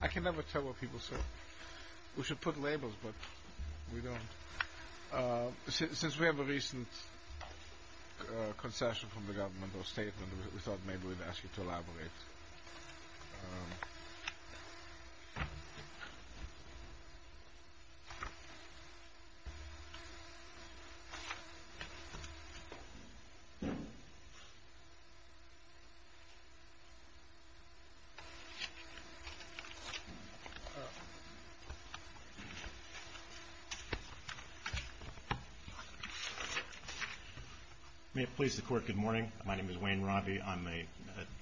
I can never tell what people say. We should put labels, but we don't. Since we have a recent concession from the government or statement, we thought maybe we'd ask you to elaborate. May it please the Court, good morning. My name is Wayne Robby. I'm a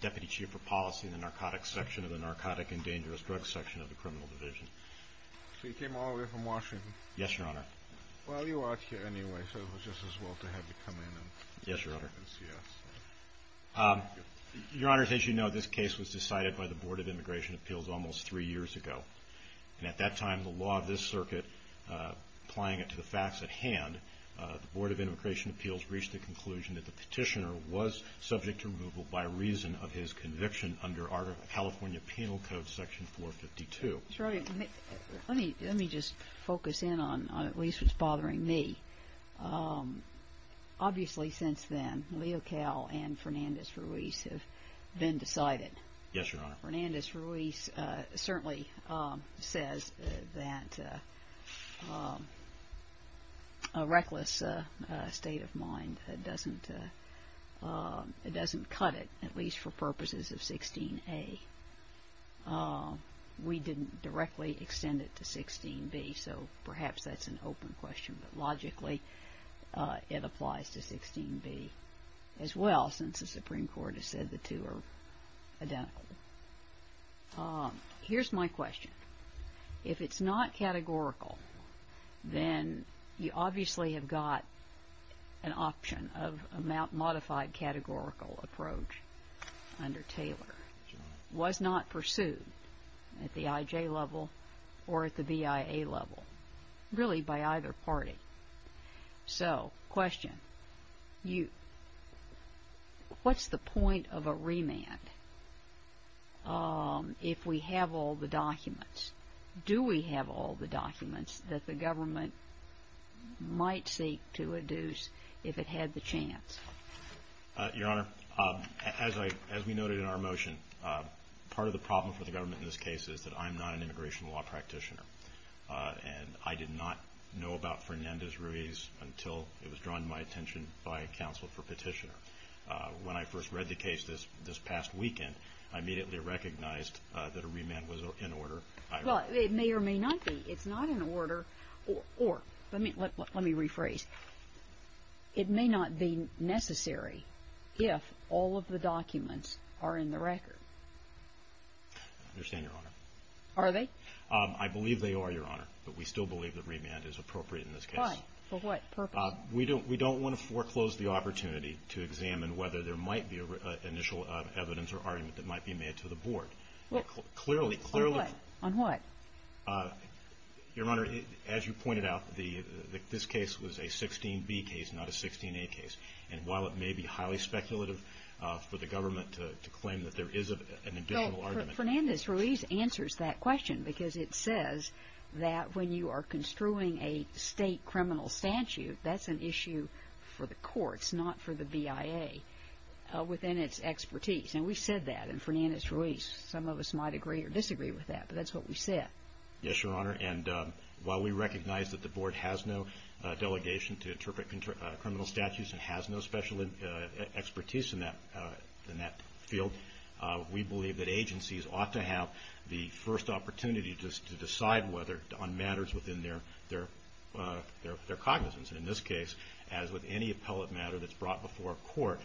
Deputy Chief of Policy in the Narcotics Section of the Narcotic and Dangerous Drugs Section of the Criminal Division. So you came all the way from Washington? Yes, Your Honor. Well, you are here anyway, so it was just as well to have you come in and see us. Your Honor, as you know, this case was decided by the Board of Immigration Appeals almost three years ago. And at that time, the law of this circuit, applying it to the facts at hand, the Board of Immigration Appeals reached the conclusion that the petitioner was subject to removal by reason of his conviction under California Penal Code, Section 452. Let me just focus in on at least what's bothering me. Obviously, since then, Leo Cal and Fernandez-Ruiz have been decided. Yes, Your Honor. Fernandez-Ruiz certainly says that a reckless state of mind doesn't cut it, at least for purposes of 16A. We didn't directly extend it to 16B, so perhaps that's an open question. But logically, it applies to 16B as well, since the Supreme Court has said the two are identical. Here's my question. If it's not categorical, then you obviously have got an option of a modified categorical approach under Taylor. It was not pursued at the IJ level or at the BIA level, really by either party. So, question. What's the point of a remand if we have all the documents? Do we have all the documents that the government might seek to reduce if it had the chance? Your Honor, as we noted in our motion, part of the problem for the government in this case is that I'm not an immigration law practitioner. And I did not know about Fernandez-Ruiz until it was drawn to my attention by a counsel for petitioner. When I first read the case this past weekend, I immediately recognized that a remand was in order. Well, it may or may not be. It's not in order. Or, let me rephrase. It may not be necessary if all of the documents are in the record. I understand, Your Honor. Are they? I believe they are, Your Honor. But we still believe that remand is appropriate in this case. Why? For what purpose? We don't want to foreclose the opportunity to examine whether there might be initial evidence or argument that might be made to the Board. Well, on what? Your Honor, as you pointed out, this case was a 16B case, not a 16A case. And while it may be highly speculative for the government to claim that there is an additional argument. No, Fernandez-Ruiz answers that question because it says that when you are construing a state criminal statute, that's an issue for the courts, not for the BIA, within its expertise. And we said that in Fernandez-Ruiz. Some of us might agree or disagree with that, but that's what we said. Yes, Your Honor. And while we recognize that the Board has no delegation to interpret criminal statutes and has no special expertise in that field, we believe that agencies ought to have the first opportunity to decide whether, on matters within their cognizance. In this case, as with any appellate matter that's brought before a court,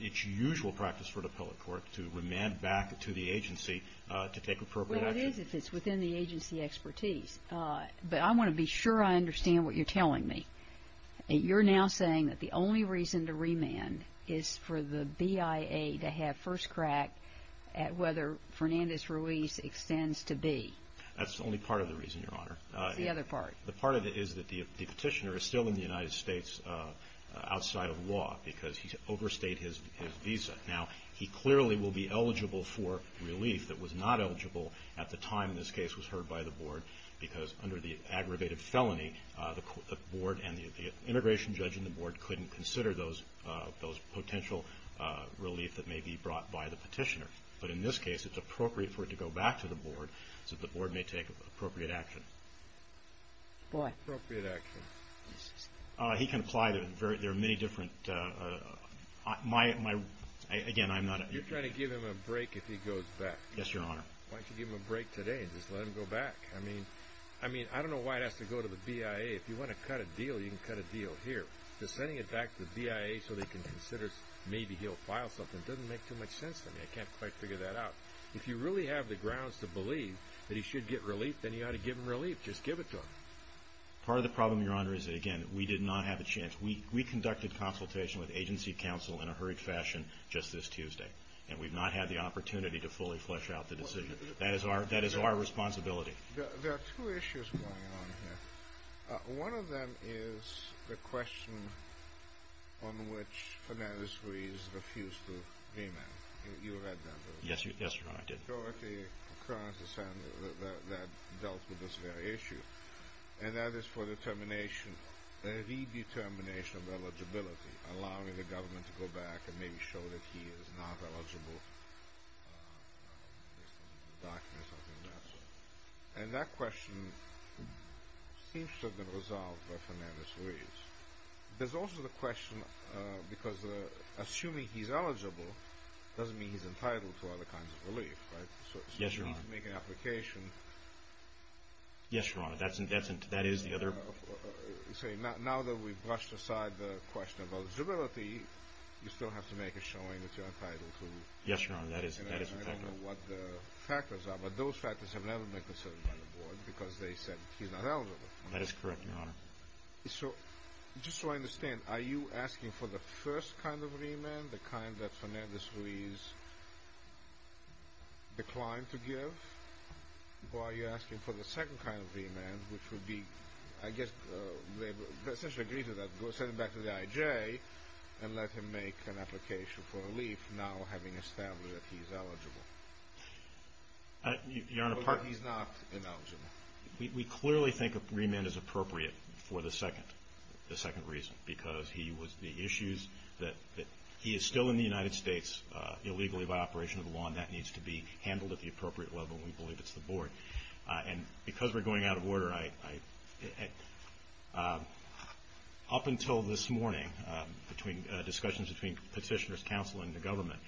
it's usual practice for an appellate court to remand back to the agency to take appropriate action. Well, it is if it's within the agency expertise. But I want to be sure I understand what you're telling me. You're now saying that the only reason to remand is for the BIA to have first crack at whether Fernandez-Ruiz extends to B. That's only part of the reason, Your Honor. The part of it is that the petitioner is still in the United States outside of law because he overstayed his visa. Now, he clearly will be eligible for relief that was not eligible at the time this case was heard by the Board, because under the aggravated felony, the Board and the immigration judge in the Board couldn't consider those potential relief that may be brought by the petitioner. But in this case, it's appropriate for it to go back to the Board so that the Board may take appropriate action. What? Appropriate action. He can apply them. There are many different... Again, I'm not... You're trying to give him a break if he goes back. Yes, Your Honor. Why don't you give him a break today and just let him go back? I mean, I don't know why it has to go to the BIA. If you want to cut a deal, you can cut a deal here. Just sending it back to the BIA so they can consider maybe he'll file something doesn't make too much sense to me. I can't quite figure that out. If you really have the grounds to believe that he should get relief, then you ought to give him relief. Just give it to him. Part of the problem, Your Honor, is that, again, we did not have a chance. We conducted consultation with agency counsel in a hurried fashion just this Tuesday, and we've not had the opportunity to fully flesh out the decision. That is our responsibility. There are two issues going on here. One of them is the question on which financiaries refuse to remand. You read that, didn't you? Yes, Your Honor, I did. The majority concurrence that dealt with this very issue, and that is for the termination, the redetermination of eligibility, allowing the government to go back and maybe show that he is not eligible. There's some documents on that. And that question seems to have been resolved by Fernandez-Ruiz. There's also the question, because assuming he's eligible doesn't mean he's entitled to other kinds of relief, right? Yes, Your Honor. So he needs to make an application. Yes, Your Honor, that is the other... Now that we've brushed aside the question of eligibility, you still have to make a showing that you're entitled to... Yes, Your Honor, that is a factor. I don't know what the factors are, but those factors have never been considered by the board, because they said he's not eligible. That is correct, Your Honor. Just so I understand, are you asking for the first kind of remand, the kind that Fernandez-Ruiz declined to give? Or are you asking for the second kind of remand, which would be, I guess, essentially agree to that, send him back to the IJ and let him make an application for relief, now having established that he's eligible? Your Honor, part... He's not ineligible. We clearly think a remand is appropriate for the second reason, because he was... The issues that... He is still in the United States illegally by operation of the law, and that needs to be handled at the appropriate level, and we believe it's the board. And because we're going out of order, I... Up until this morning, discussions between petitioners, counsel, and the government,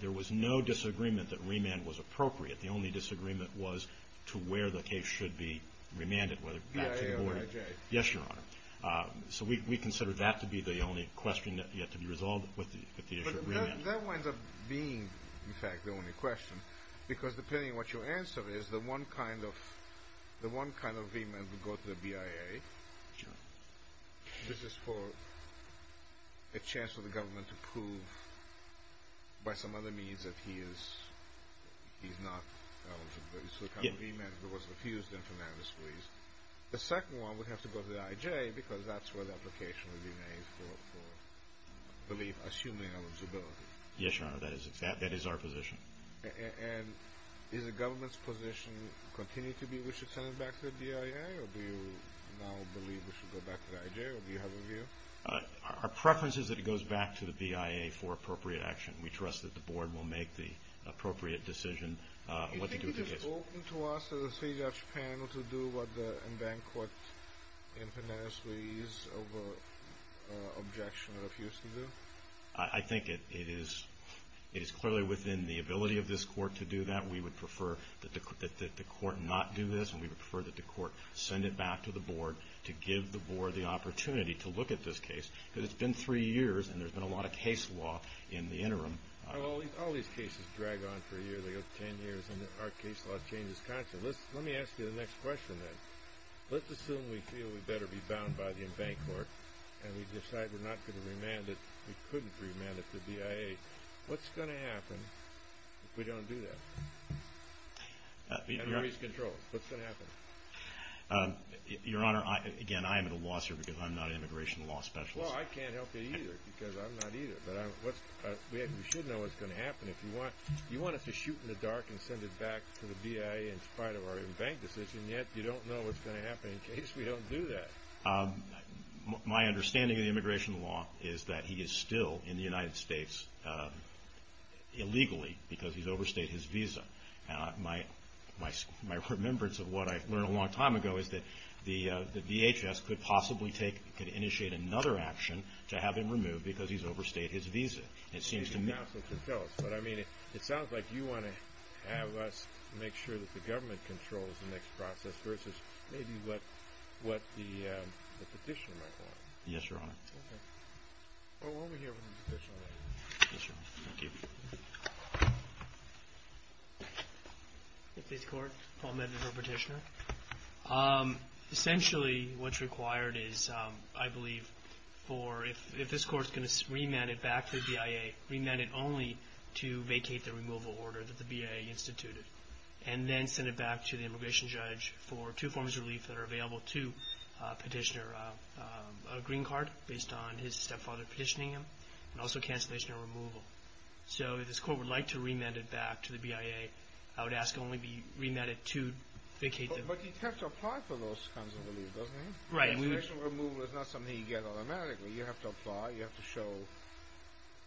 there was no disagreement that remand was appropriate. The only disagreement was to where the case should be remanded, whether back to the board... BIA or IJ. Yes, Your Honor. So we consider that to be the only question that yet to be resolved with the issue of remand. But that winds up being, in fact, the only question, because depending on what your answer is, the one kind of remand would go to the BIA. Sure. This is for... A chance for the government to prove, by some other means, that he is... He's not eligible. It's the kind of remand that was refused in Fernandez, please. The second one would have to go to the IJ, because that's where the application would be made for... I believe, assuming eligibility. Yes, Your Honor, that is our position. And is the government's position continue to be we should send him back to the BIA, or do you now believe we should go back to the IJ, or do you have a view? Our preference is that it goes back to the BIA for appropriate action. We trust that the board will make the appropriate decision what to do with the case. Do you think it is open to us as a three-judge panel to do what the Embankment court in Fernandez, please, over an objection refused to do? I think it is clearly within the ability of this court to do that. We would prefer that the court not do this, and we would prefer that the court send it back to the board to give the board the opportunity to look at this case, because it's been three years, and there's been a lot of case law in the interim. All these cases drag on for a year, they go ten years, and our case law changes constantly. Let me ask you the next question, then. Let's assume we feel we better be bound by the Embankment court, and we decide we're not going to remand it, we couldn't remand it to BIA. What's going to happen if we don't do that? We've got to raise control. What's going to happen? Your Honor, again, I'm at a loss here because I'm not an immigration law specialist. Well, I can't help you either, because I'm not either. We should know what's going to happen. You want us to shoot in the dark and send it back to the BIA in spite of our Embankment decision, yet you don't know what's going to happen in case we don't do that. My understanding of the immigration law is that he is still in the United States illegally, because he's overstayed his visa. My remembrance of what I learned a long time ago is that the DHS could possibly initiate another action to have him removed because he's overstayed his visa. It sounds like you want to have us make sure that the government controls the next process versus maybe what the petitioner might want. Yes, Your Honor. Well, we'll hear from the petitioner later. Yes, Your Honor. Thank you. Thank you. Fifth State's Court. Paul Medivh, Petitioner. Essentially, what's required is, I believe, if this Court's going to remand it back to the BIA, remand it only to vacate the removal order that the BIA instituted, and then send it back to the immigration judge for two forms of relief that are available to Petitioner. A green card based on his stepfather petitioning him, and also cancellation or removal. So if this Court would like to remand it back to the BIA, I would ask it only be remanded to vacate the... But he'd have to apply for those kinds of relief, doesn't he? Right. A cancellation or removal is not something you get automatically. You have to apply. You have to show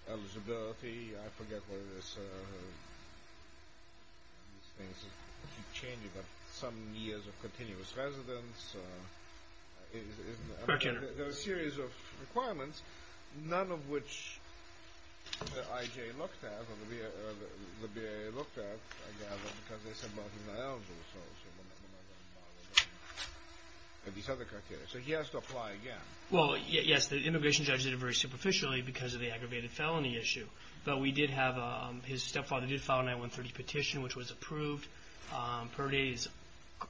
eligibility. I forget what it is. These things keep changing. Some years of continuous residence. Petitioner. There are a series of requirements, none of which the IJ looked at, or the BIA looked at, I gather, because they said, well, he's not eligible, so we're not going to bother with these other criteria. So he has to apply again. Well, yes, the immigration judge did it very superficially because of the aggravated felony issue. But we did have, his stepfather did file a 9-130 petition, which was approved. Per day is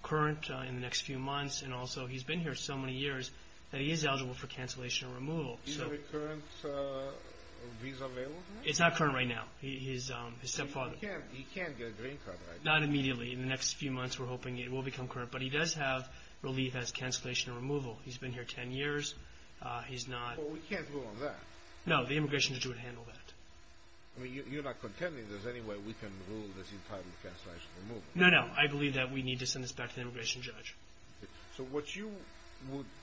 current in the next few months, and also he's been here so many years that he is eligible for cancellation or removal. Is there a recurrent visa available to him? It's not current right now. His stepfather... He can't get a green card right now. Not immediately. In the next few months, we're hoping it will become current. But he does have relief as cancellation or removal. He's been here 10 years. He's not... Well, we can't rule on that. No, the immigration judge would handle that. You're not contending there's any way we can rule this entitled cancellation or removal. No, no. I believe that we need to send this back to the immigration judge. So, what you...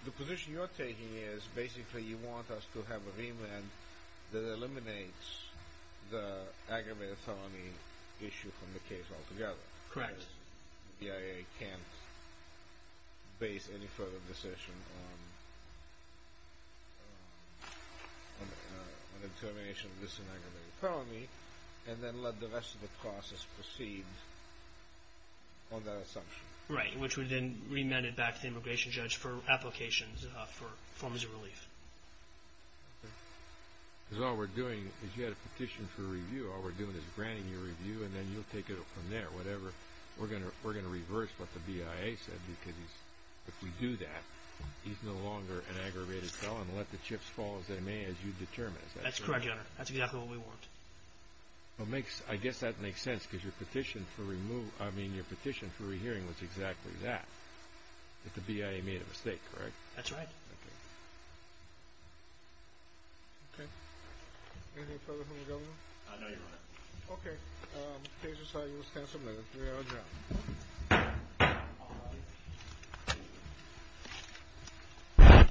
The position you're taking is basically you want us to have a remand that eliminates the aggravated felony issue from the case altogether. Correct. Because the BIA can't base any further decision on... on the termination of this aggravated felony, and then let the rest of the process proceed on that assumption. Right, which would then be remanded back to the immigration judge for applications for forms of relief. Okay. Because all we're doing is you had a petition for review. All we're doing is granting you a review, and then you'll take it from there, whatever. We're going to reverse what the BIA said, because if we do that, he's no longer an aggravated felon. Let the chips fall as they may, as you determine. That's correct, Your Honor. That's exactly what we want. I guess that makes sense, because your petition for removal... is exactly that. That the BIA made a mistake, correct? That's right. Okay. Anything further from the Governor? No, Your Honor. Okay. Case decided. We'll stand submitted. We are adjourned.